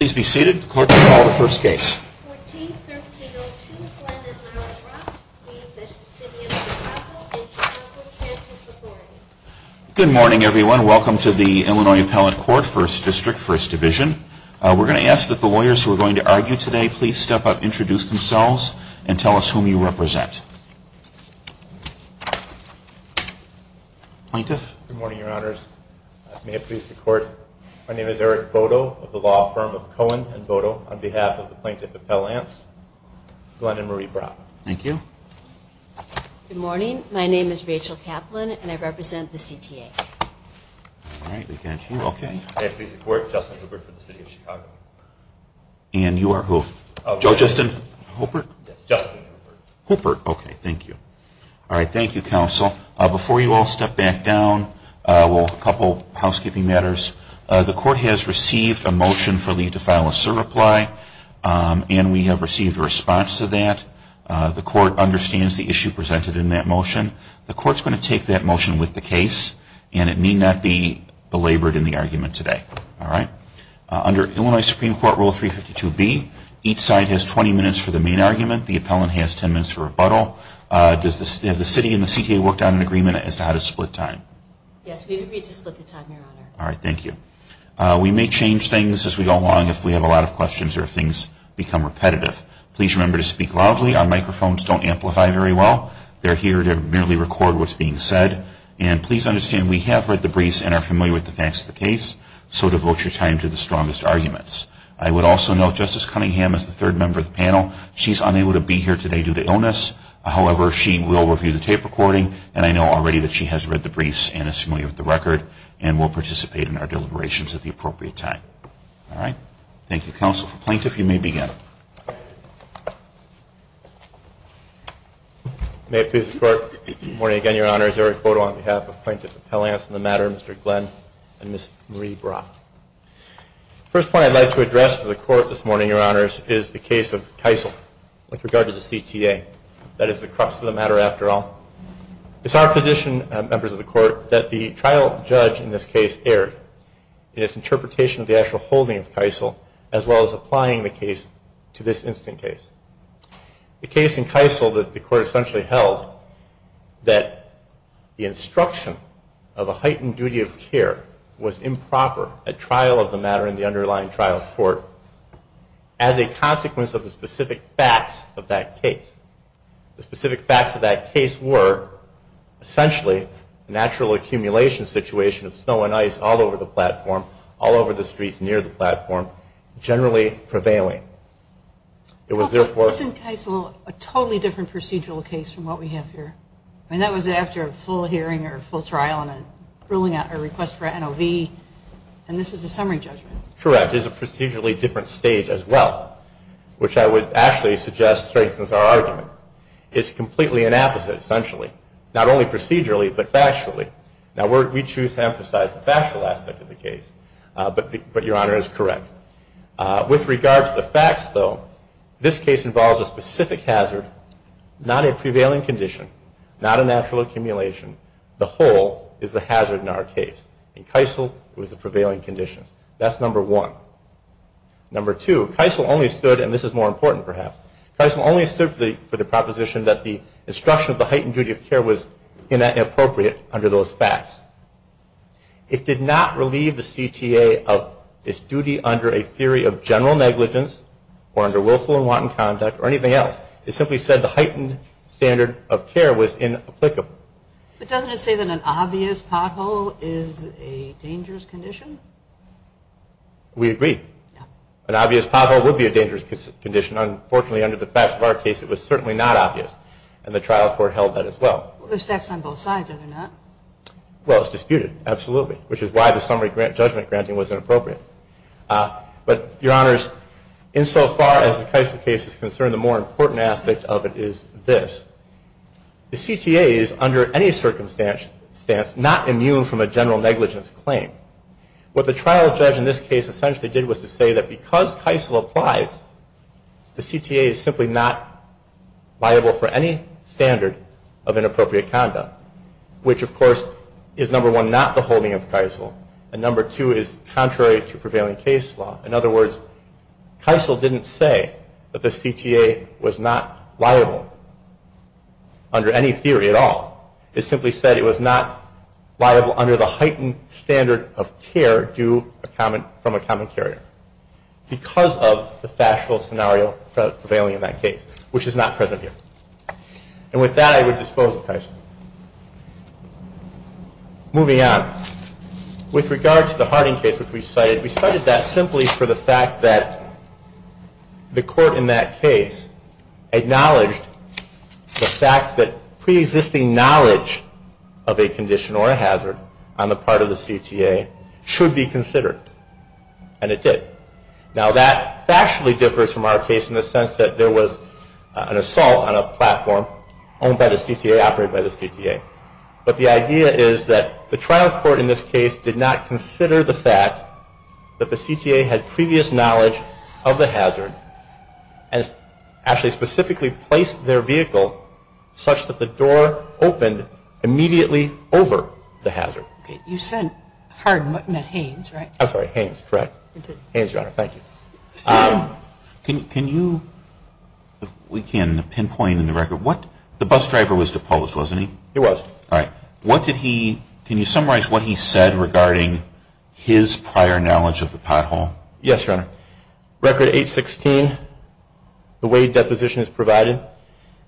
Please be seated. The clerk will call the first case. Good morning, everyone. Welcome to the Illinois Appellate Court, First District, First Division. We're going to ask that the lawyers who are going to argue today please step up, introduce themselves, and tell us whom you represent. Plaintiff. Good morning, your honors. May it please the court, my name is Eric Bodo of the law firm of Cohen and Bodo. On behalf of the Plaintiff Appellants, Glen and Marie Brock. Thank you. Good morning, my name is Rachel Kaplan and I represent the CTA. May it please the court, Justin Hooper for the City of Chicago. And you are who? Joe Justin Hooper. Hooper, okay, thank you. All right, thank you, counsel. Before you all step back down, a couple of housekeeping matters. The court has received a motion for leave to file a SIR reply and we have received a response to that. The court understands the issue presented in that motion. The court is going to take that motion with the case and it need not be belabored in the argument today. All right. Under Illinois Supreme Court Rule 352B, each side has 20 minutes for the main argument. The appellant has 10 minutes for rebuttal. Does the city and the CTA work on an agreement as to how to split time? Yes, we've agreed to split the time, your honor. All right, thank you. We may change things as we go along if we have a lot of questions or if things become repetitive. Please remember to speak loudly. Our microphones don't amplify very well. They're here to merely record what's being said. And please understand we have read the briefs and are familiar with the facts of the case, so devote your time to the strongest arguments. I would also note Justice Cunningham is the third member of the panel. She's unable to be here today due to illness. However, she will review the tape recording and I know already that she has read the briefs and is familiar with the record and will participate in our deliberations at the appropriate time. All right. Thank you, counsel. Plaintiff, you may begin. May it please the Court. Good morning again, your honors. Eric Bodo on behalf of Plaintiff Appellants. In the matter, Mr. Glenn and Ms. Marie Brock. The first point I'd like to address to the Court this morning, your honors, is the case of Keisel with regard to the CTA. That is the crux of the matter, after all. It's our position, members of the Court, that the trial judge in this case erred in its interpretation of the actual holding of Keisel as well as applying the case to this instant case. The case in Keisel that the Court essentially held that the instruction of a heightened duty of care was improper at trial of the matter in the underlying trial court as a consequence of the specific facts of that case. The specific facts of that case were, essentially, the natural accumulation situation of snow and ice all over the platform, all over the streets near the platform, generally prevailing. It was, therefore- Wasn't Keisel a totally different procedural case from what we have here? I mean, that was after a full hearing or a full trial and a request for an NOV, and this is a summary judgment. Correct. It's a procedurally different stage as well, which I would actually suggest strengthens our argument. It's completely an opposite, essentially. Not only procedurally, but factually. Now, we choose to emphasize the factual aspect of the case, but Your Honor is correct. With regard to the facts, though, this case involves a specific hazard, not a prevailing condition, not a natural accumulation. The whole is the hazard in our case. In Keisel, it was the prevailing condition. That's number one. Number two, Keisel only stood- and this is more important, perhaps- Keisel only stood for the proposition that the instruction of the heightened duty of care was inappropriate under those facts. It did not relieve the CTA of its duty under a theory of general negligence or under willful and wanton conduct or anything else. It simply said the heightened standard of care was inapplicable. But doesn't it say that an obvious pothole is a dangerous condition? We agree. An obvious pothole would be a dangerous condition. Unfortunately, under the facts of our case, it was certainly not obvious, and the trial court held that as well. Those facts are on both sides, are they not? Well, it was disputed, absolutely, which is why the summary judgment granting was inappropriate. But, Your Honors, insofar as the Keisel case is concerned, the more important aspect of it is this. The CTA is, under any circumstance, not immune from a general negligence claim. What the trial judge in this case essentially did was to say that because Keisel applies, the CTA is simply not liable for any standard of inappropriate conduct, which, of course, is, number one, not the holding of Keisel, and number two is contrary to prevailing case law. In other words, Keisel didn't say that the CTA was not liable under any theory at all. It simply said it was not liable under the heightened standard of care due from a common carrier. Because of the factual scenario prevailing in that case, which is not present here. And with that, I would dispose of Keisel. Moving on, with regard to the Harding case which we cited, we cited that simply for the fact that the court in that case acknowledged the fact that pre-existing knowledge of a condition or a hazard on the part of the CTA should be considered. And it did. Now that factually differs from our case in the sense that there was an assault on a platform owned by the CTA, operated by the CTA. But the idea is that the trial court in this case did not consider the fact that the CTA had previous knowledge of the hazard and actually specifically placed their vehicle such that the door opened immediately over the hazard. Okay. You said Harding, not Haynes, right? I'm sorry, Haynes, correct? You did. Haynes, Your Honor. Thank you. Can you, if we can, pinpoint in the record what, the bus driver was deposed, wasn't he? He was. All right. What did he, can you summarize what he said regarding his prior knowledge of the pothole? Yes, Your Honor. Record 816, the Wade deposition is provided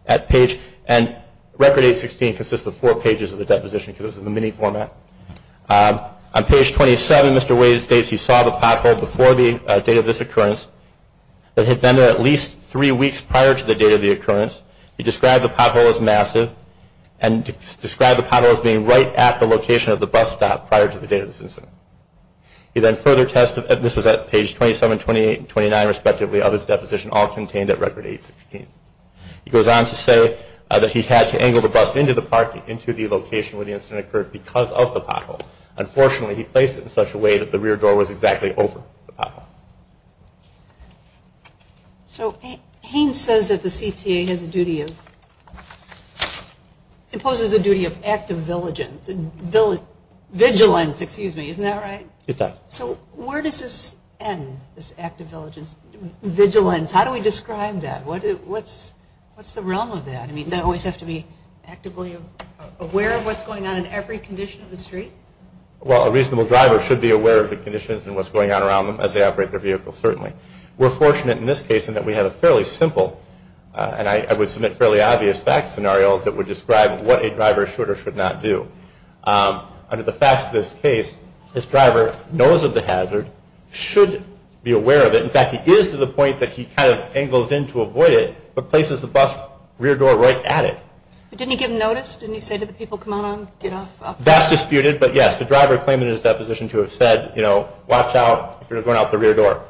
at page, and record 816 consists of four pages of the deposition because it's in the mini format. On page 27, Mr. Wade states he saw the pothole before the date of this occurrence but had been there at least three weeks prior to the date of the occurrence. He described the pothole as massive and described the pothole as being right at the location of the bus stop prior to the date of this incident. He then further tested, this was at page 27, 28, and 29 respectively, of his deposition all contained at record 816. He goes on to say that he had to angle the bus into the parking, into the location where the incident occurred because of the pothole. Unfortunately, he placed it in such a way that the rear door was exactly over the pothole. So, Haynes says that the CTA has a duty of, imposes a duty of active diligence, vigilance, excuse me, isn't that right? It does. So, where does this end, this active diligence, vigilance? How do we describe that? What's the realm of that? I mean, do I always have to be actively aware of what's going on in every condition of the street? Well, a reasonable driver should be aware of the conditions and what's going on around them as they operate their vehicle, certainly. We're fortunate in this case in that we have a fairly simple, and I would submit fairly obvious facts scenario that would describe what a driver should or should not do. Under the facts of this case, this driver knows of the hazard, should be aware of it. In fact, he is to the point that he kind of angles in to avoid it, but places the bus rear door right at it. But didn't he give notice? Didn't he say to the people, come on, get off? That's disputed, but yes, the driver claimed in his deposition to have said, you know, watch out if you're going out the rear door.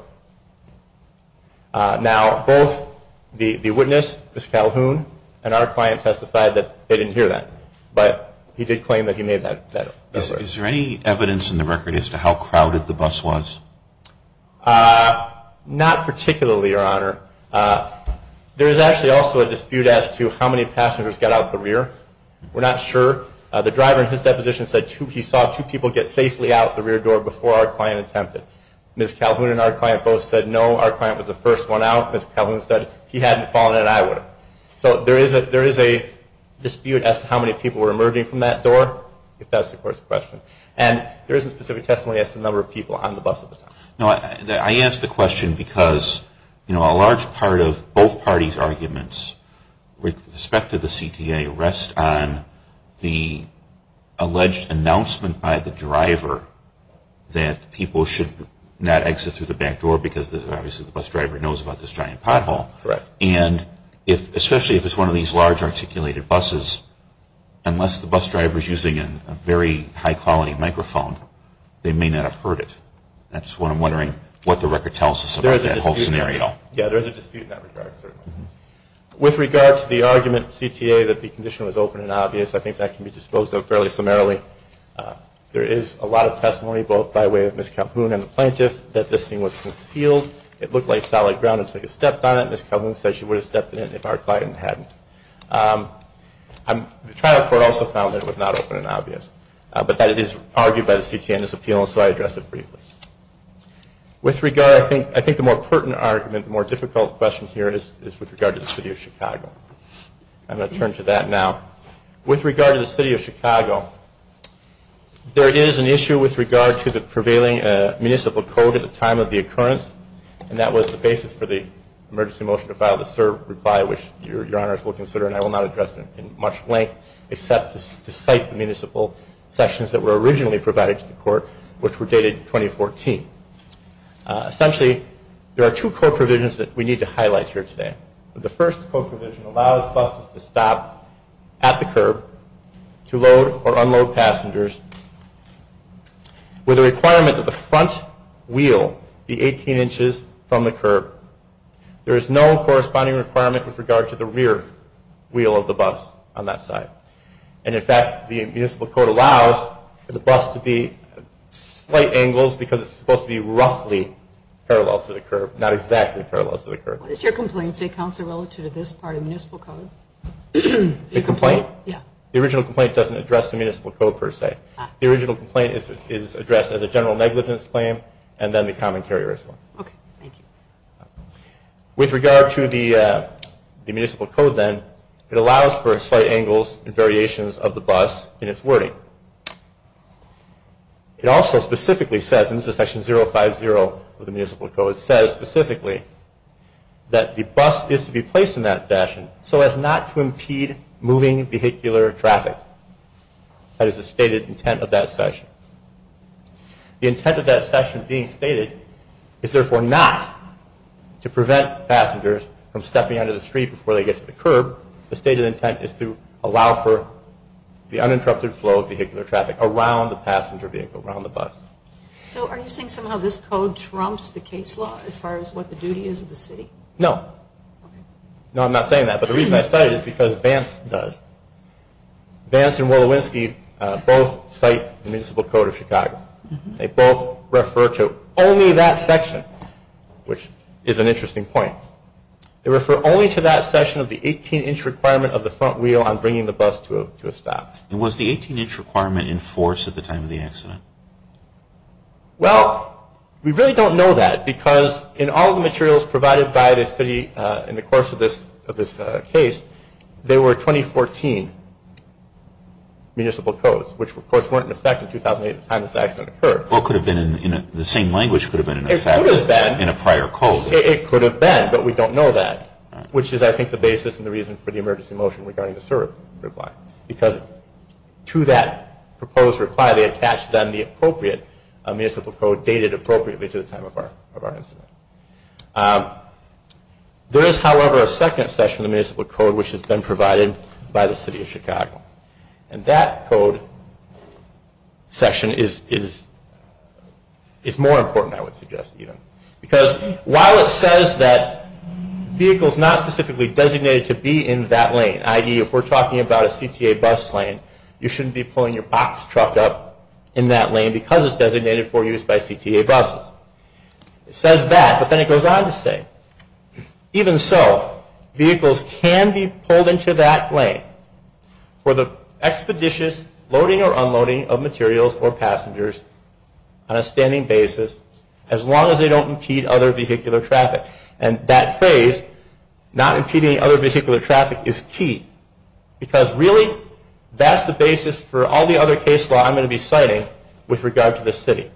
Now, both the witness, Ms. Calhoun, and our client testified that they didn't hear that, but he did claim that he made that request. Is there any evidence in the record as to how crowded the bus was? Not particularly, Your Honor. There is actually also a dispute as to how many passengers got out the rear. We're not sure. The driver in his deposition said he saw two people get safely out the rear door before our client attempted. Ms. Calhoun and our client both said no. Our client was the first one out. Ms. Calhoun said if he hadn't fallen in, I would have. So there is a dispute as to how many people were emerging from that door, if that's the question. And there isn't specific testimony as to the number of people on the bus at the time. No, I ask the question because, you know, a large part of both parties' arguments with respect to the CTA rest on the alleged announcement by the driver that people should not exit through the back door because, obviously, the bus driver knows about this giant pothole. Correct. And especially if it's one of these large articulated buses, unless the bus driver is using a very high-quality microphone, they may not have heard it. That's what I'm wondering what the record tells us about that whole scenario. Yeah, there is a dispute in that regard, certainly. With regard to the argument of CTA that the condition was open and obvious, I think that can be disposed of fairly summarily. There is a lot of testimony, both by way of Ms. Calhoun and the plaintiff, that this thing was concealed. It looked like solid ground until you stepped on it. Ms. Calhoun said she would have stepped in it if our client hadn't. The trial court also found that it was not open and obvious, but that it is argued by the CTA in this appeal, and so I address it briefly. With regard, I think the more pertinent argument, the more difficult question here is with regard to the City of Chicago. I'm going to turn to that now. With regard to the City of Chicago, there is an issue with regard to the prevailing municipal code at the time of the occurrence, and that was the basis for the emergency motion to file the CERB reply, which Your Honors will consider, and I will not address it in much length, except to cite the municipal sections that were originally provided to the court, which were dated 2014. Essentially, there are two code provisions that we need to highlight here today. The first code provision allows buses to stop at the CERB to load or unload passengers with a requirement that the front wheel be 18 inches from the CERB. There is no corresponding requirement with regard to the rear wheel of the bus on that side. And, in fact, the municipal code allows for the bus to be at slight angles because it's supposed to be roughly parallel to the CERB, not exactly parallel to the CERB. What does your complaint say, Counselor, relative to this part of the municipal code? The complaint? Yeah. The original complaint doesn't address the municipal code per se. The original complaint is addressed as a general negligence claim and then the common carrier as well. Okay. Thank you. With regard to the municipal code, then, it allows for slight angles and variations of the bus in its wording. It also specifically says, and this is Section 050 of the municipal code, it says specifically that the bus is to be placed in that fashion so as not to impede moving vehicular traffic. That is the stated intent of that section. The intent of that section being stated is, therefore, not to prevent passengers from stepping onto the street before they get to the CERB. The stated intent is to allow for the uninterrupted flow of vehicular traffic around the passenger vehicle, around the bus. So are you saying somehow this code trumps the case law as far as what the duty is of the city? No. Okay. No, I'm not saying that. But the reason I say it is because Vance does. Vance and Wolowitzki both cite the municipal code of Chicago. They both refer to only that section, which is an interesting point. They refer only to that section of the 18-inch requirement of the front wheel on bringing the bus to a stop. And was the 18-inch requirement in force at the time of the accident? Well, we really don't know that because in all the materials provided by the city in the course of this case, there were 2014 municipal codes, which, of course, weren't in effect in 2008 at the time this accident occurred. Well, the same language could have been in effect in a prior code. It could have been, but we don't know that, which is, I think, the basis and the reason for the emergency motion regarding the CERB reply because to that proposed reply they attached then the appropriate municipal code dated appropriately to the time of our incident. There is, however, a second section of the municipal code, which has been provided by the city of Chicago. And that code section is more important, I would suggest, even. Because while it says that vehicles not specifically designated to be in that lane, i.e., if we're talking about a CTA bus lane, you shouldn't be pulling your box truck up in that lane because it's designated for use by CTA buses. It says that, but then it goes on to say, even so, vehicles can be pulled into that lane for the expeditious loading or unloading of materials or passengers on a standing basis as long as they don't impede other vehicular traffic. And that phrase, not impeding other vehicular traffic, is key because really that's the basis for all the other case law I'm going to be citing with regard to this city.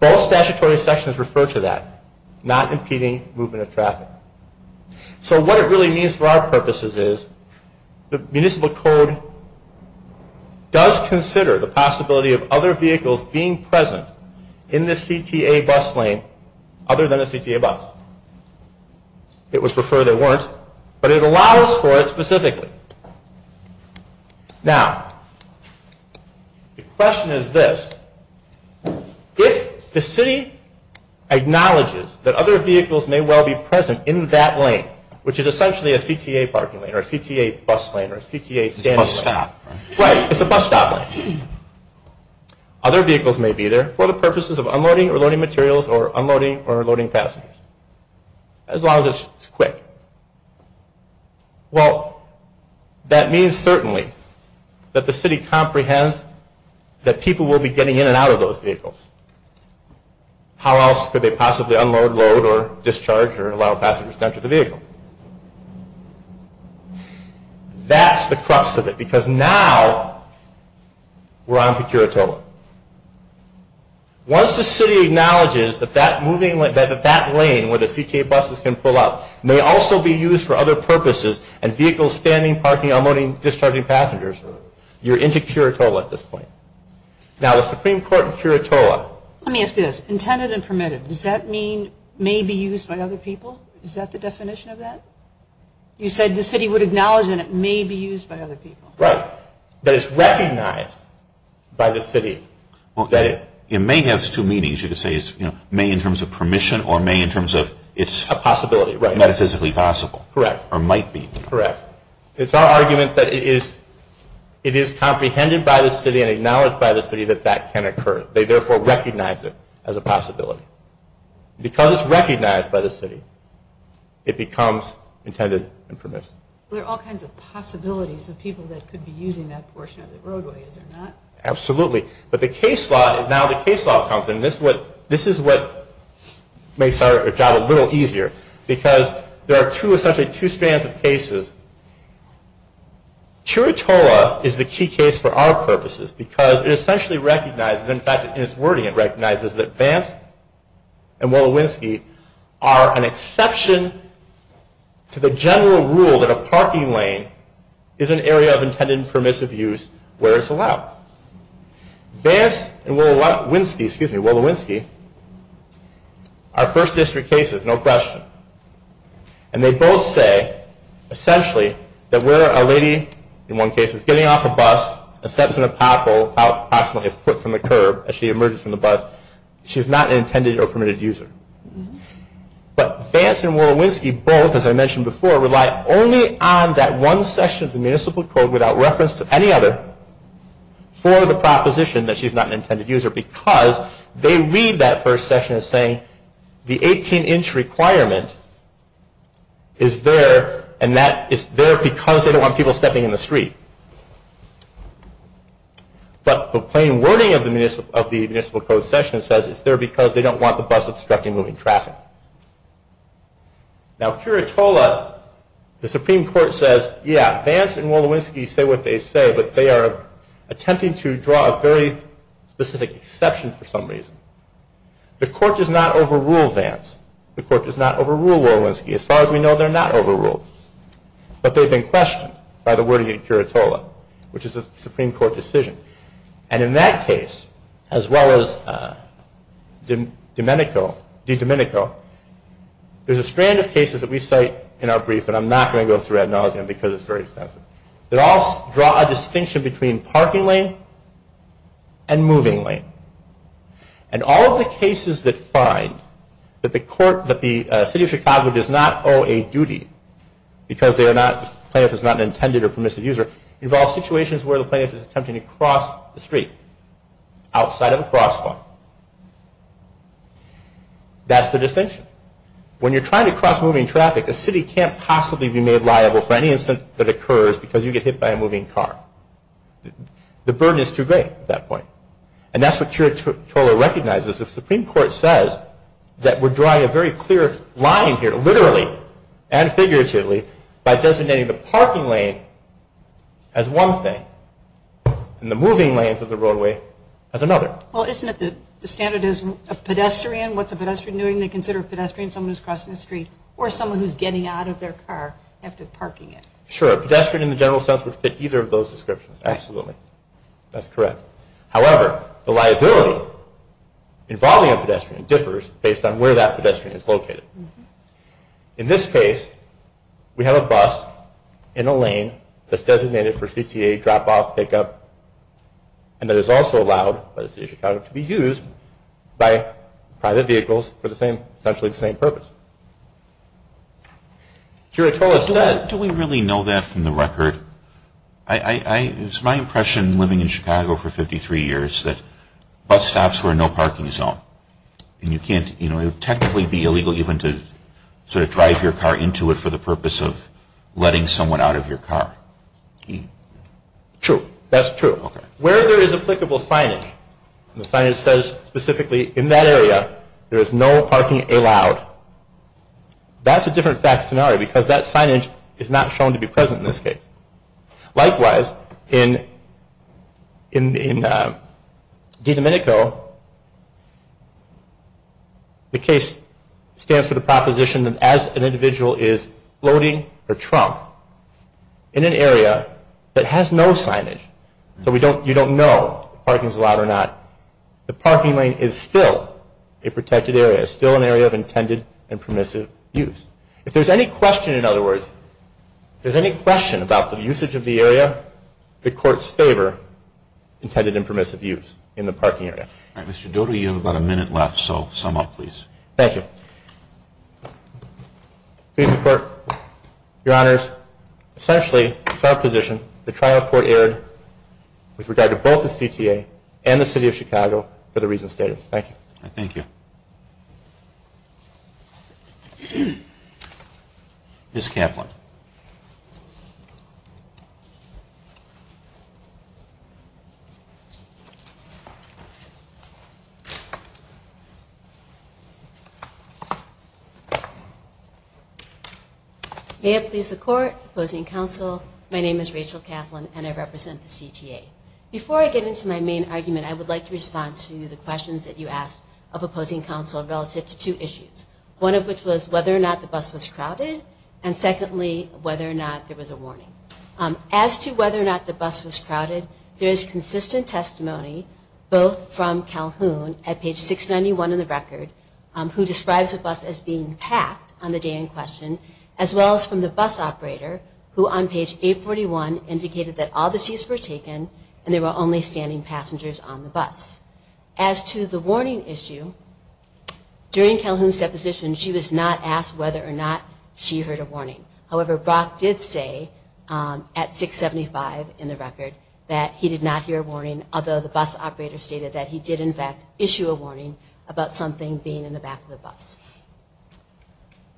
Both statutory sections refer to that, not impeding movement of traffic. So what it really means for our purposes is, the municipal code does consider the possibility of other vehicles being present in the CTA bus lane other than a CTA bus. It would prefer they weren't, but it allows for it specifically. Now, the question is this. If the city acknowledges that other vehicles may well be present in that lane, which is essentially a CTA parking lane or a CTA bus lane or a CTA standing lane. It's a bus stop, right? Right, it's a bus stop lane. Other vehicles may be there for the purposes of unloading or loading materials or unloading or loading passengers, as long as it's quick. Well, that means certainly that the city comprehends that people will be getting in and out of those vehicles. How else could they possibly unload, load, or discharge or allow passengers to enter the vehicle? That's the crux of it, because now we're on to Curatola. Once the city acknowledges that that lane where the CTA buses can pull out may also be used for other purposes and vehicles standing, parking, unloading, discharging passengers, you're into Curatola at this point. Now, the Supreme Court in Curatola... Let me ask you this. Intended and permitted, does that mean may be used by other people? Is that the definition of that? You said the city would acknowledge that it may be used by other people. Right. But it's recognized by the city that it... It may have two meanings. You could say it's may in terms of permission or may in terms of it's... A possibility, right. Metaphysically possible. Correct. Or might be. Correct. It's our argument that it is comprehended by the city and acknowledged by the city that that can occur. They therefore recognize it as a possibility. Because it's recognized by the city, it becomes intended and permitted. There are all kinds of possibilities of people that could be using that portion of the roadway, is there not? Absolutely. But the case law... Now the case law comes in. This is what makes our job a little easier, because there are essentially two strands of cases. Chiritoa is the key case for our purposes because it essentially recognizes... In fact, in it's wording it recognizes that Vance and Willowinsky are an exception to the general rule that a parking lane is an area of intended and permissive use where it's allowed. Vance and Willowinsky are first district cases, no question. And they both say essentially that where a lady in one case is getting off a bus and steps in a pothole approximately a foot from the curb as she emerges from the bus, she's not an intended or permitted user. But Vance and Willowinsky both, as I mentioned before, rely only on that one section of the Municipal Code without reference to any other for the proposition that she's not an intended user, because they read that first section as saying the 18-inch requirement is there and that is there because they don't want people stepping in the street. But the plain wording of the Municipal Code section says it's there because they don't want the bus obstructing moving traffic. Now, Curitola, the Supreme Court says, yeah, Vance and Willowinsky say what they say, but they are attempting to draw a very specific exception for some reason. The Court does not overrule Vance. The Court does not overrule Willowinsky. As far as we know, they're not overruled. But they've been questioned by the wording in Curitola, which is a Supreme Court decision. And in that case, as well as DiDomenico, there's a strand of cases that we cite in our brief, and I'm not going to go through ad nauseum because it's very extensive, that all draw a distinction between parking lane and moving lane. And all of the cases that find that the City of Chicago does not owe a duty because the plaintiff is not an intended or permissive user involve situations where the plaintiff is attempting to cross the street outside of a crosswalk. That's the distinction. When you're trying to cross moving traffic, a city can't possibly be made liable for any incident that occurs because you get hit by a moving car. The burden is too great at that point. And that's what Curitola recognizes. The Supreme Court says that we're drawing a very clear line here, literally and figuratively, by designating the parking lane as one thing and the moving lanes of the roadway as another. Well, isn't it the standardism of pedestrian? What's a pedestrian doing? They consider a pedestrian someone who's crossing the street or someone who's getting out of their car after parking it. Sure. A pedestrian, in the general sense, would fit either of those descriptions. Absolutely. That's correct. However, the liability involving a pedestrian differs based on where that pedestrian is located. In this case, we have a bus in a lane that's designated for CTA drop-off, pick-up, and that is also allowed by the city of Chicago to be used by private vehicles for essentially the same purpose. Curitola says… Do we really know that from the record? It was my impression living in Chicago for 53 years that bus stops were no parking zone. And you can't technically be illegal even to drive your car into it for the purpose of letting someone out of your car. True. That's true. Where there is applicable signage, the signage says specifically in that area there is no parking allowed, that's a different fact scenario because that signage is not shown to be present in this case. Likewise, in DiDomenico, the case stands for the proposition that as an individual is floating or trunk in an area that has no signage, so you don't know if parking is allowed or not, the parking lane is still a protected area, still an area of intended and permissive use. If there's any question, in other words, if there's any question about the usage of the area, the courts favor intended and permissive use in the parking area. All right, Mr. Dodo, you have about a minute left, so sum up please. Thank you. Please support. Your Honors, essentially it's our position the trial court erred with regard to both the CTA and the City of Chicago for the reasons stated. Thank you. Thank you. Ms. Kaplan. May it please the Court, opposing counsel, my name is Rachel Kaplan and I represent the CTA. Before I get into my main argument, I would like to respond to the questions that you asked of opposing counsel relative to two issues, one of which was whether or not the bus was crowded, and secondly, whether or not there was a warning. As to whether or not the bus was crowded, there is consistent testimony both from Calhoun at page 691 in the record, who describes the bus as being packed on the day in question, as well as from the bus operator, who on page 841 indicated that all the seats were taken and there were only standing passengers on the bus. As to the warning issue, during Calhoun's deposition, she was not asked whether or not she heard a warning. However, Brock did say at 675 in the record that he did not hear a warning, although the bus operator stated that he did in fact issue a warning about something being in the back of the bus.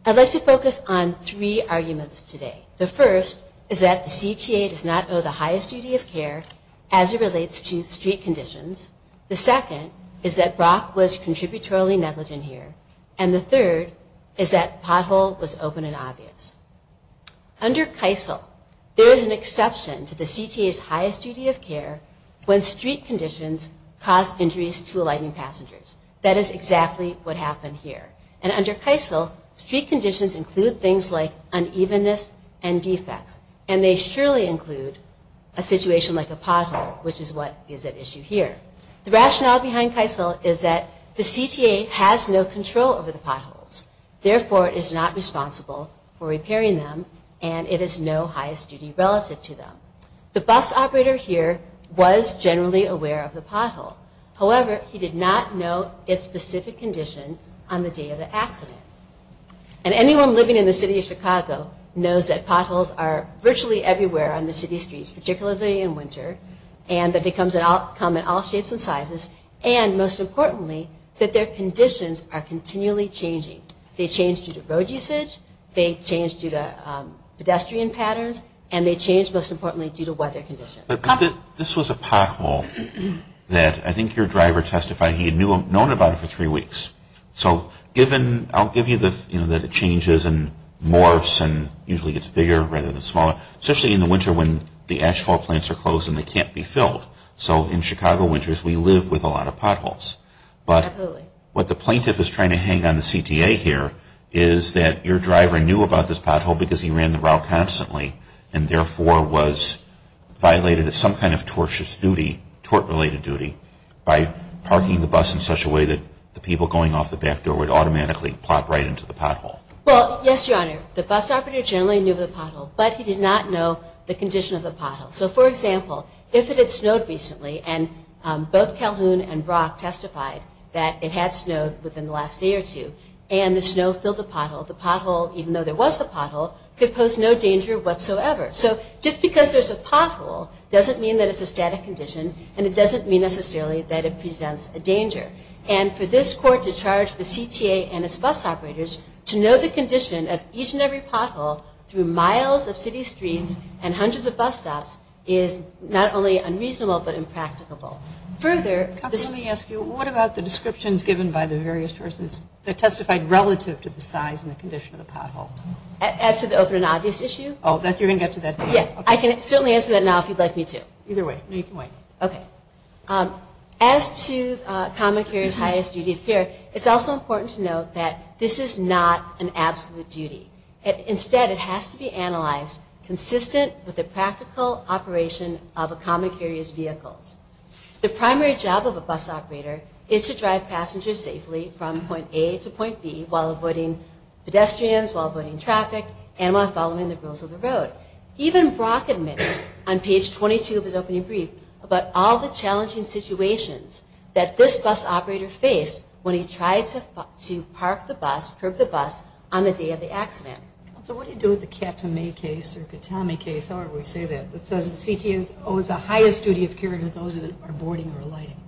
I'd like to focus on three arguments today. The first is that the CTA does not owe the highest duty of care as it relates to street conditions. The second is that Brock was contributorily negligent here. And the third is that the pothole was open and obvious. Under Keisel, there is an exception to the CTA's highest duty of care when street conditions cause injuries to alighting passengers. That is exactly what happened here. And under Keisel, street conditions include things like unevenness and defects. And they surely include a situation like a pothole, which is what is at issue here. The rationale behind Keisel is that the CTA has no control over the potholes. Therefore, it is not responsible for repairing them and it is no highest duty relative to them. The bus operator here was generally aware of the pothole. However, he did not know its specific condition on the day of the accident. And anyone living in the city of Chicago knows that potholes are virtually everywhere on the city streets, particularly in winter, and that they come in all shapes and sizes, and most importantly, that their conditions are continually changing. They change due to road usage, they change due to pedestrian patterns, and they change, most importantly, due to weather conditions. This was a pothole that I think your driver testified he had known about it for three weeks. So I'll give you that it changes and morphs and usually gets bigger rather than smaller, especially in the winter when the asphalt plants are closed and they can't be filled. So in Chicago winters, we live with a lot of potholes. But what the plaintiff is trying to hang on the CTA here is that your driver knew about this pothole because he ran the route constantly and therefore was violated as some kind of tortious duty, tort-related duty, by parking the bus in such a way that the people going off the back door would automatically plop right into the pothole. Well, yes, Your Honor, the bus operator generally knew of the pothole, but he did not know the condition of the pothole. So, for example, if it had snowed recently, and both Calhoun and Brock testified that it had snowed within the last day or two, and the snow filled the pothole, the pothole, even though there was a pothole, could pose no danger whatsoever. So just because there's a pothole doesn't mean that it's a static condition, and it doesn't mean necessarily that it presents a danger. And for this court to charge the CTA and its bus operators to know the condition of each and every pothole through miles of city streets and hundreds of bus stops is not only unreasonable, but impracticable. Further – Counsel, let me ask you, what about the descriptions given by the various persons that testified relative to the size and the condition of the pothole? As to the open and obvious issue? Oh, you're going to get to that point. Yeah, I can certainly answer that now if you'd like me to. Either way. No, you can wait. Okay. As to a common carrier's highest duty of care, it's also important to note that this is not an absolute duty. The primary job of a bus operator is to drive passengers safely from point A to point B while avoiding pedestrians, while avoiding traffic, and while following the rules of the road. Even Brock admitted on page 22 of his opening brief about all the challenging situations that this bus operator faced when he tried to park the bus, curb the bus, on the day of the accident. Counsel, what do you do with the Captain May case or Katami case, however we say that, that says the CTA owes the highest duty of care to those that are boarding or alighting?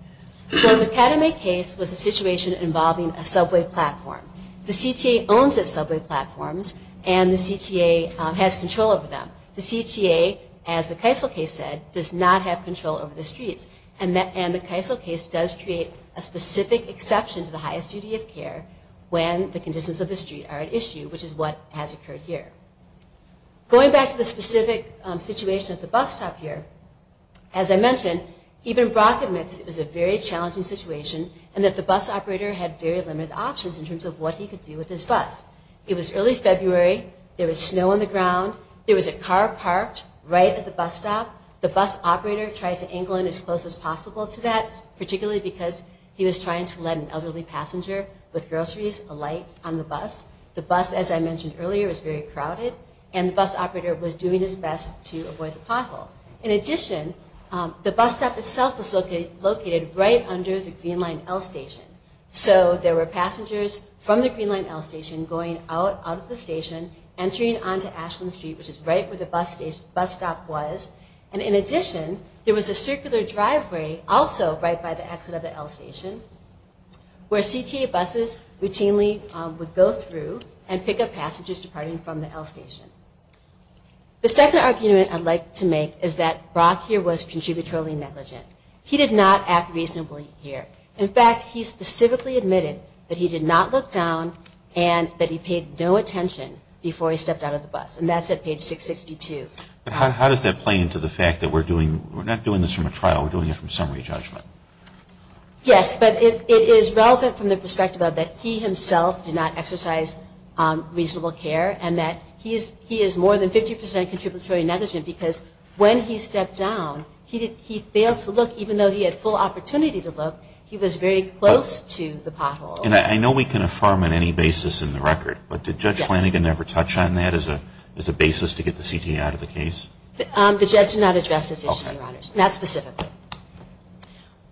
Well, the Katami case was a situation involving a subway platform. The CTA owns its subway platforms, and the CTA has control over them. The CTA, as the Keisel case said, does not have control over the streets, and the Keisel case does create a specific exception to the highest duty of care when the conditions of the street are at issue, which is what has occurred here. Going back to the specific situation at the bus stop here, as I mentioned, even Brock admits it was a very challenging situation, and that the bus operator had very limited options in terms of what he could do with his bus. It was early February. There was snow on the ground. There was a car parked right at the bus stop. The bus operator tried to angle in as close as possible to that, particularly because he was trying to let an elderly passenger with groceries alight on the bus. The bus, as I mentioned earlier, was very crowded, and the bus operator was doing his best to avoid the pothole. In addition, the bus stop itself was located right under the Green Line L Station, so there were passengers from the Green Line L Station going out of the station, entering onto Ashland Street, which is right where the bus stop was, and in addition, there was a circular driveway also right by the exit of the L Station where CTA buses routinely would go through and pick up passengers departing from the L Station. The second argument I'd like to make is that Brock here was contributorily negligent. He did not act reasonably here. In fact, he specifically admitted that he did not look down and that he paid no attention before he stepped out of the bus, and that's at page 662. But how does that play into the fact that we're not doing this from a trial, we're doing it from summary judgment? Yes, but it is relevant from the perspective of that he himself did not exercise reasonable care and that he is more than 50 percent contributory negligent because when he stepped down, he failed to look even though he had full opportunity to look. He was very close to the pothole. And I know we can affirm on any basis in the record, but did Judge Flanagan ever touch on that as a basis to get the CTA out of the case? The judge did not address this issue, Your Honors, not specifically.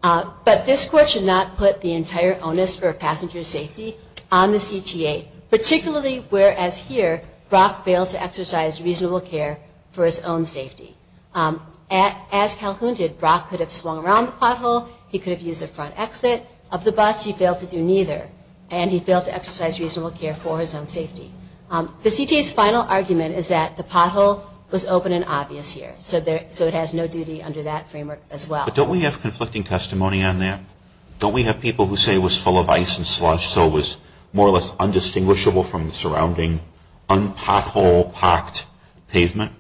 But this Court should not put the entire onus for passenger safety on the CTA, particularly whereas here Brock failed to exercise reasonable care for his own safety. As Calhoun did, Brock could have swung around the pothole. He could have used the front exit of the bus. He failed to do neither, and he failed to exercise reasonable care for his own safety. The CTA's final argument is that the pothole was open and obvious here, so it has no duty under that framework as well. But don't we have conflicting testimony on that? Don't we have people who say it was full of ice and slush so it was more or less undistinguishable from the surrounding un-pothole-packed pavement?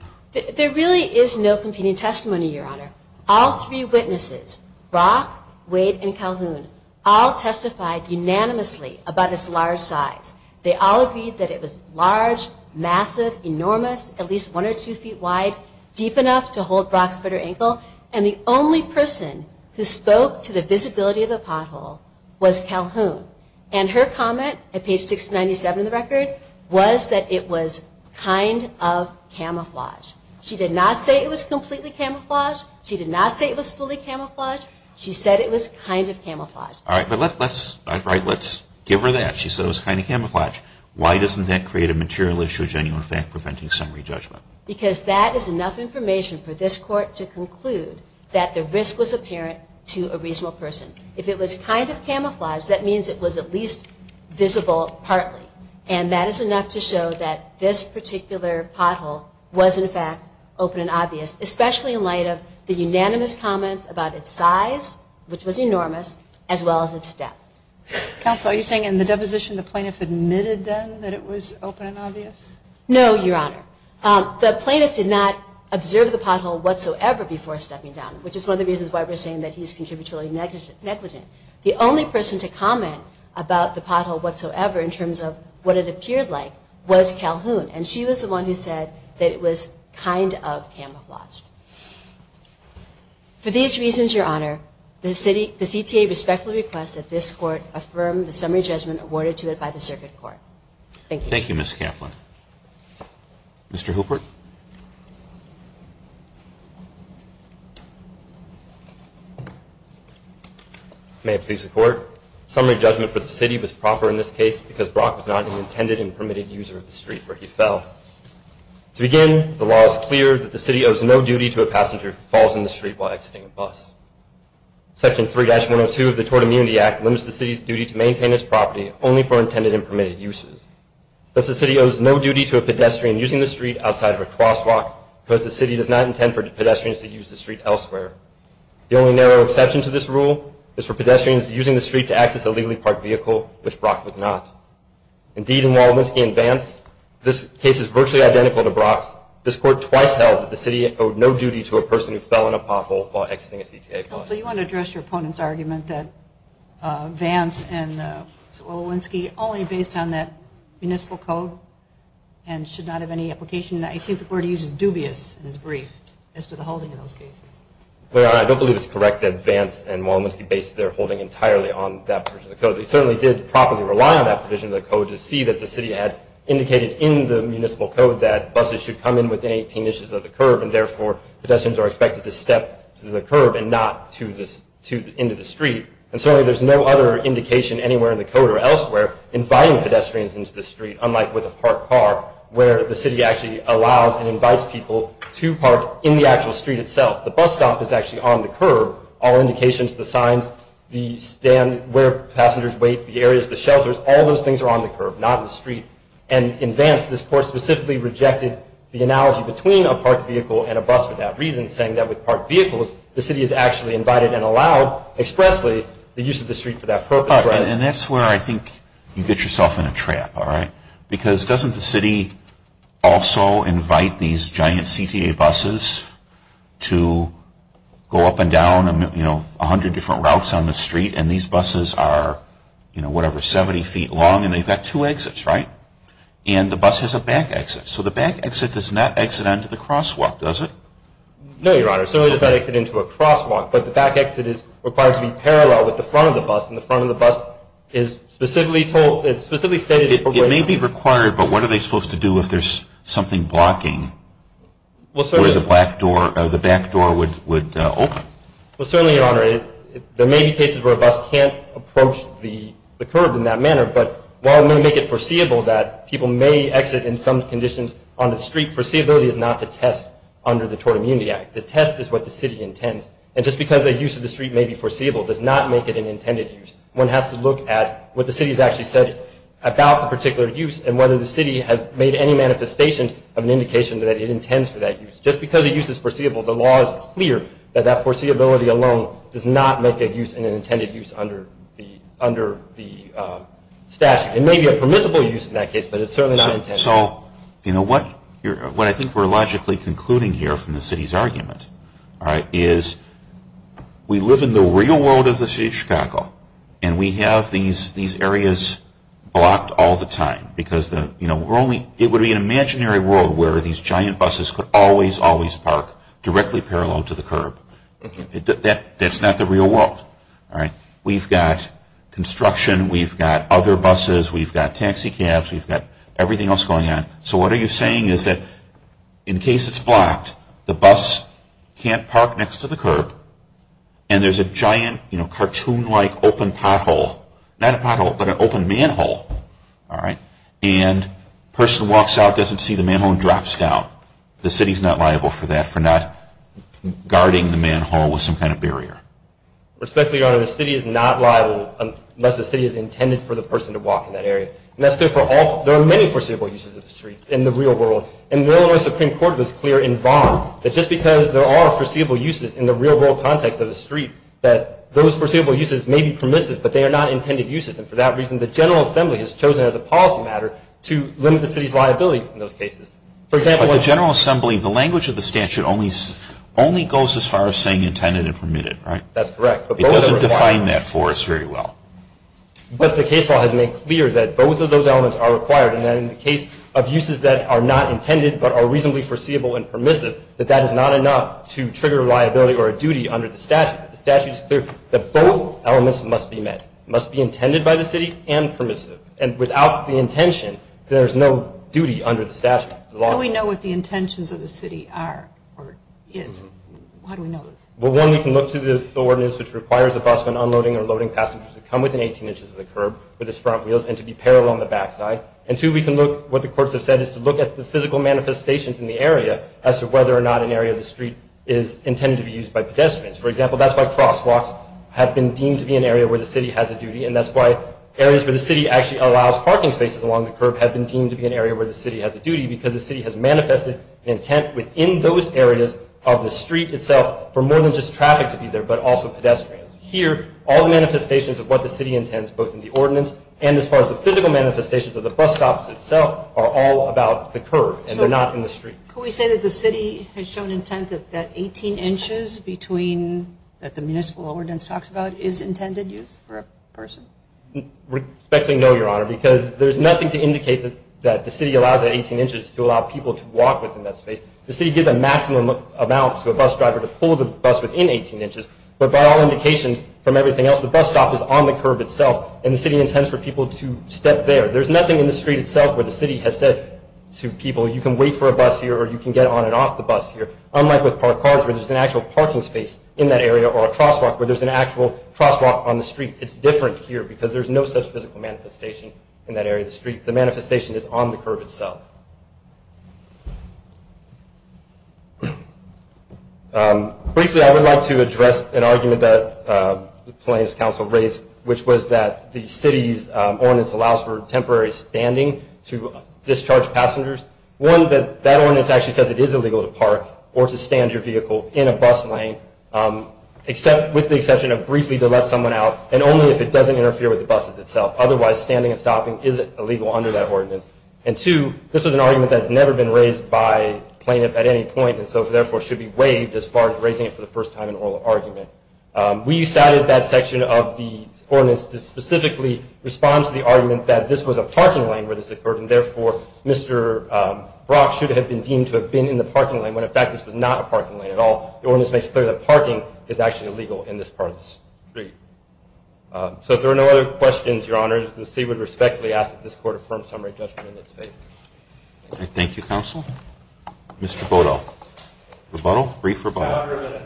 There really is no competing testimony, Your Honor. All three witnesses, Brock, Wade, and Calhoun, all testified unanimously about its large size. They all agreed that it was large, massive, enormous, at least one or two feet wide, deep enough to hold Brock's foot or ankle, and the only person who spoke to the visibility of the pothole was Calhoun. And her comment at page 697 of the record was that it was kind of camouflaged. She did not say it was completely camouflaged. She did not say it was fully camouflaged. She said it was kind of camouflaged. All right, but let's give her that. She said it was kind of camouflaged. Why doesn't that create a material issue of genuine fact preventing summary judgment? Because that is enough information for this Court to conclude that the risk was apparent to a reasonable person. If it was kind of camouflaged, that means it was at least visible partly, and that is enough to show that this particular pothole was, in fact, open and obvious, especially in light of the unanimous comments about its size, which was enormous, as well as its depth. Counsel, are you saying in the deposition the plaintiff admitted then that it was open and obvious? No, Your Honor. The plaintiff did not observe the pothole whatsoever before stepping down, which is one of the reasons why we're saying that he's contributory negligent. The only person to comment about the pothole whatsoever in terms of what it appeared like was Calhoun, and she was the one who said that it was kind of camouflaged. For these reasons, Your Honor, the CTA respectfully requests that this Court affirm the summary judgment awarded to it by the Circuit Court. Thank you. Thank you, Ms. Kaplan. Mr. Hilbert. May it please the Court. Summary judgment for the city was proper in this case because Brock was not an intended and permitted user of the street where he fell. To begin, the law is clear that the city owes no duty to a passenger who falls in the street while exiting a bus. Section 3-102 of the Tort Immunity Act limits the city's duty to maintain its property only for intended and permitted uses. Thus, the city owes no duty to a pedestrian using the street outside of a crosswalk because the city does not intend for pedestrians to use the street elsewhere. The only narrow exception to this rule is for pedestrians using the street to access a legally parked vehicle, which Brock was not. Indeed, in Waldensky and Vance, this case is virtually identical to Brock's. This Court twice held that the city owed no duty to a person who fell in a pothole while exiting a CTA bus. Counsel, you want to address your opponent's argument that Vance and Waldensky only based on that municipal code and should not have any application. I see that the Court uses dubious in its brief as to the holding of those cases. Well, Your Honor, I don't believe it's correct that Vance and Waldensky based their holding entirely on that provision of the code. They certainly did properly rely on that provision of the code to see that the city had indicated in the municipal code that buses should come in within 18 inches of the curb and, therefore, pedestrians are expected to step to the curb and not into the street. And certainly there's no other indication anywhere in the code or elsewhere inviting pedestrians into the street, unlike with a parked car, where the city actually allows and invites people to park in the actual street itself. The bus stop is actually on the curb. All indications, the signs, the stand, where passengers wait, the areas, the shelters, all those things are on the curb, not in the street. And in Vance, this Court specifically rejected the analogy between a parked vehicle and a bus for that reason, saying that with parked vehicles, the city has actually invited and allowed expressly the use of the street for that purpose. And that's where I think you get yourself in a trap, all right? Because doesn't the city also invite these giant CTA buses to go up and down, you know, 100 different routes on the street, and these buses are, you know, whatever, 70 feet long, and they've got two exits, right? And the bus has a back exit. So the back exit does not exit onto the crosswalk, does it? No, Your Honor. Certainly does not exit into a crosswalk. But the back exit is required to be parallel with the front of the bus, and the front of the bus is specifically stated for waiting. It may be required, but what are they supposed to do if there's something blocking where the back door would open? Well, certainly, Your Honor, there may be cases where a bus can't approach the curb in that manner, but while it may make it foreseeable that people may exit in some conditions on the street, foreseeability is not to test under the Tort Immunity Act. The test is what the city intends. And just because a use of the street may be foreseeable does not make it an intended use. One has to look at what the city has actually said about the particular use and whether the city has made any manifestations of an indication that it intends for that use. Just because a use is foreseeable, the law is clear that that foreseeability alone does not make it an intended use under the statute. It may be a permissible use in that case, but it's certainly not intended. So what I think we're logically concluding here from the city's argument is we live in the real world of the city of Chicago, and we have these areas blocked all the time because it would be an imaginary world where these giant buses could always, always park directly parallel to the curb. That's not the real world. We've got construction. We've got other buses. We've got taxi cabs. We've got everything else going on. So what are you saying is that in case it's blocked, the bus can't park next to the curb, and there's a giant cartoon-like open pothole. Not a pothole, but an open manhole. And a person walks out, doesn't see the manhole, and drops down. The city's not liable for that, for not guarding the manhole with some kind of barrier. Respectfully, Your Honor, the city is not liable unless the city is intended for the person to walk in that area. And that's true for all of them. There are many foreseeable uses of the streets in the real world. And the Illinois Supreme Court was clear in Vaughn that just because there are foreseeable uses in the real world context of the street, that those foreseeable uses may be permissive, but they are not intended uses. And for that reason, the General Assembly has chosen as a policy matter to limit the city's liability in those cases. For example – But the General Assembly, the language of the statute only goes as far as saying intended and permitted, right? That's correct. It doesn't define that for us very well. But the case law has made clear that both of those elements are required, and that in the case of uses that are not intended but are reasonably foreseeable and permissive, that that is not enough to trigger liability or a duty under the statute. The statute is clear that both elements must be met. It must be intended by the city and permissive. And without the intention, there is no duty under the statute. How do we know what the intentions of the city are or is? How do we know this? Well, one, we can look to the ordinance which requires a bus when unloading or loading passengers to come within 18 inches of the curb with its front wheels and to be parallel on the backside. And two, we can look – what the courts have said is to look at the physical manifestations in the area as to whether or not an area of the street is intended to be used by pedestrians. For example, that's why crosswalks have been deemed to be an area where the city has a duty, and that's why areas where the city actually allows parking spaces along the curb have been deemed to be an area where the city has a duty because the city has manifested an intent within those areas of the street itself for more than just traffic to be there but also pedestrians. Here, all the manifestations of what the city intends, both in the ordinance and as far as the physical manifestations of the bus stops itself, are all about the curb, and they're not in the street. Could we say that the city has shown intent that 18 inches between – that the municipal ordinance talks about is intended use for a person? Respectfully, no, Your Honor, because there's nothing to indicate that the city allows at 18 inches to allow people to walk within that space. The city gives a maximum amount to a bus driver to pull the bus within 18 inches, but by all indications from everything else, the bus stop is on the curb itself, and the city intends for people to step there. There's nothing in the street itself where the city has said to people you can wait for a bus here or you can get on and off the bus here. Unlike with parked cars where there's an actual parking space in that area or a crosswalk where there's an actual crosswalk on the street, it's different here because there's no such physical manifestation in that area of the street. The manifestation is on the curb itself. Briefly, I would like to address an argument that the plaintiff's counsel raised, which was that the city's ordinance allows for temporary standing to discharge passengers. One, that that ordinance actually says it is illegal to park or to stand your vehicle in a bus lane with the exception of briefly to let someone out and only if it doesn't interfere with the bus itself. Otherwise, standing and stopping isn't illegal under that ordinance. And two, this is an argument that has never been raised by plaintiff at any point, and so therefore should be waived as far as raising it for the first time in oral argument. We cited that section of the ordinance to specifically respond to the argument that this was a parking lane where this occurred, and therefore Mr. Brock should have been deemed to have been in the parking lane when in fact this was not a parking lane at all. The ordinance makes clear that parking is actually illegal in this part of the street. So if there are no other questions, Your Honor, the city would respectfully ask that this court affirm summary judgment in its favor. Thank you, counsel. Mr. Bodo. Rebuttal? Brief rebuttal.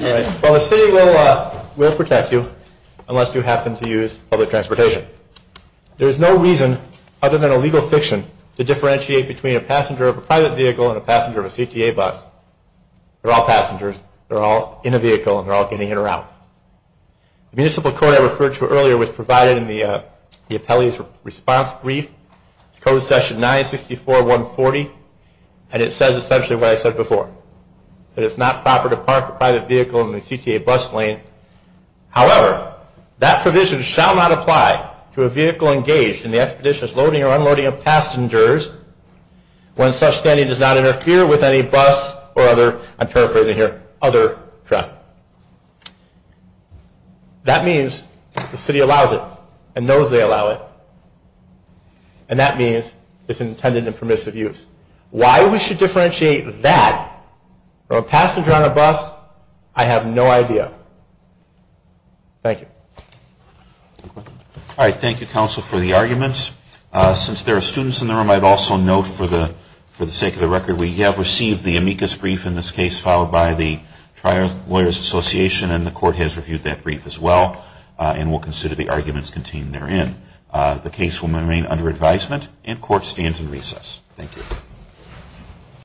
Well, the city will protect you unless you happen to use public transportation. There is no reason, other than a legal fiction, to differentiate between a passenger of a private vehicle and a passenger of a CTA bus. They're all passengers. They're all in a vehicle, and they're all getting in or out. The municipal court I referred to earlier was provided in the appellee's response brief. It's code section 964.140, and it says essentially what I said before, that it's not proper to park a private vehicle in the CTA bus lane. However, that provision shall not apply to a vehicle engaged in the expedition's loading or unloading of passengers when such standing does not interfere with any bus or other, I'm paraphrasing here, other truck. That means the city allows it and knows they allow it, and that means it's intended and permissive use. Why we should differentiate that from a passenger on a bus, I have no idea. Thank you. All right. Thank you, counsel, for the arguments. Since there are students in the room, I'd also note for the sake of the record, we have received the amicus brief in this case filed by the Tri-Lawyers Association, and the court has reviewed that brief as well and will consider the arguments contained therein. The case will remain under advisement and court stands in recess. Thank you.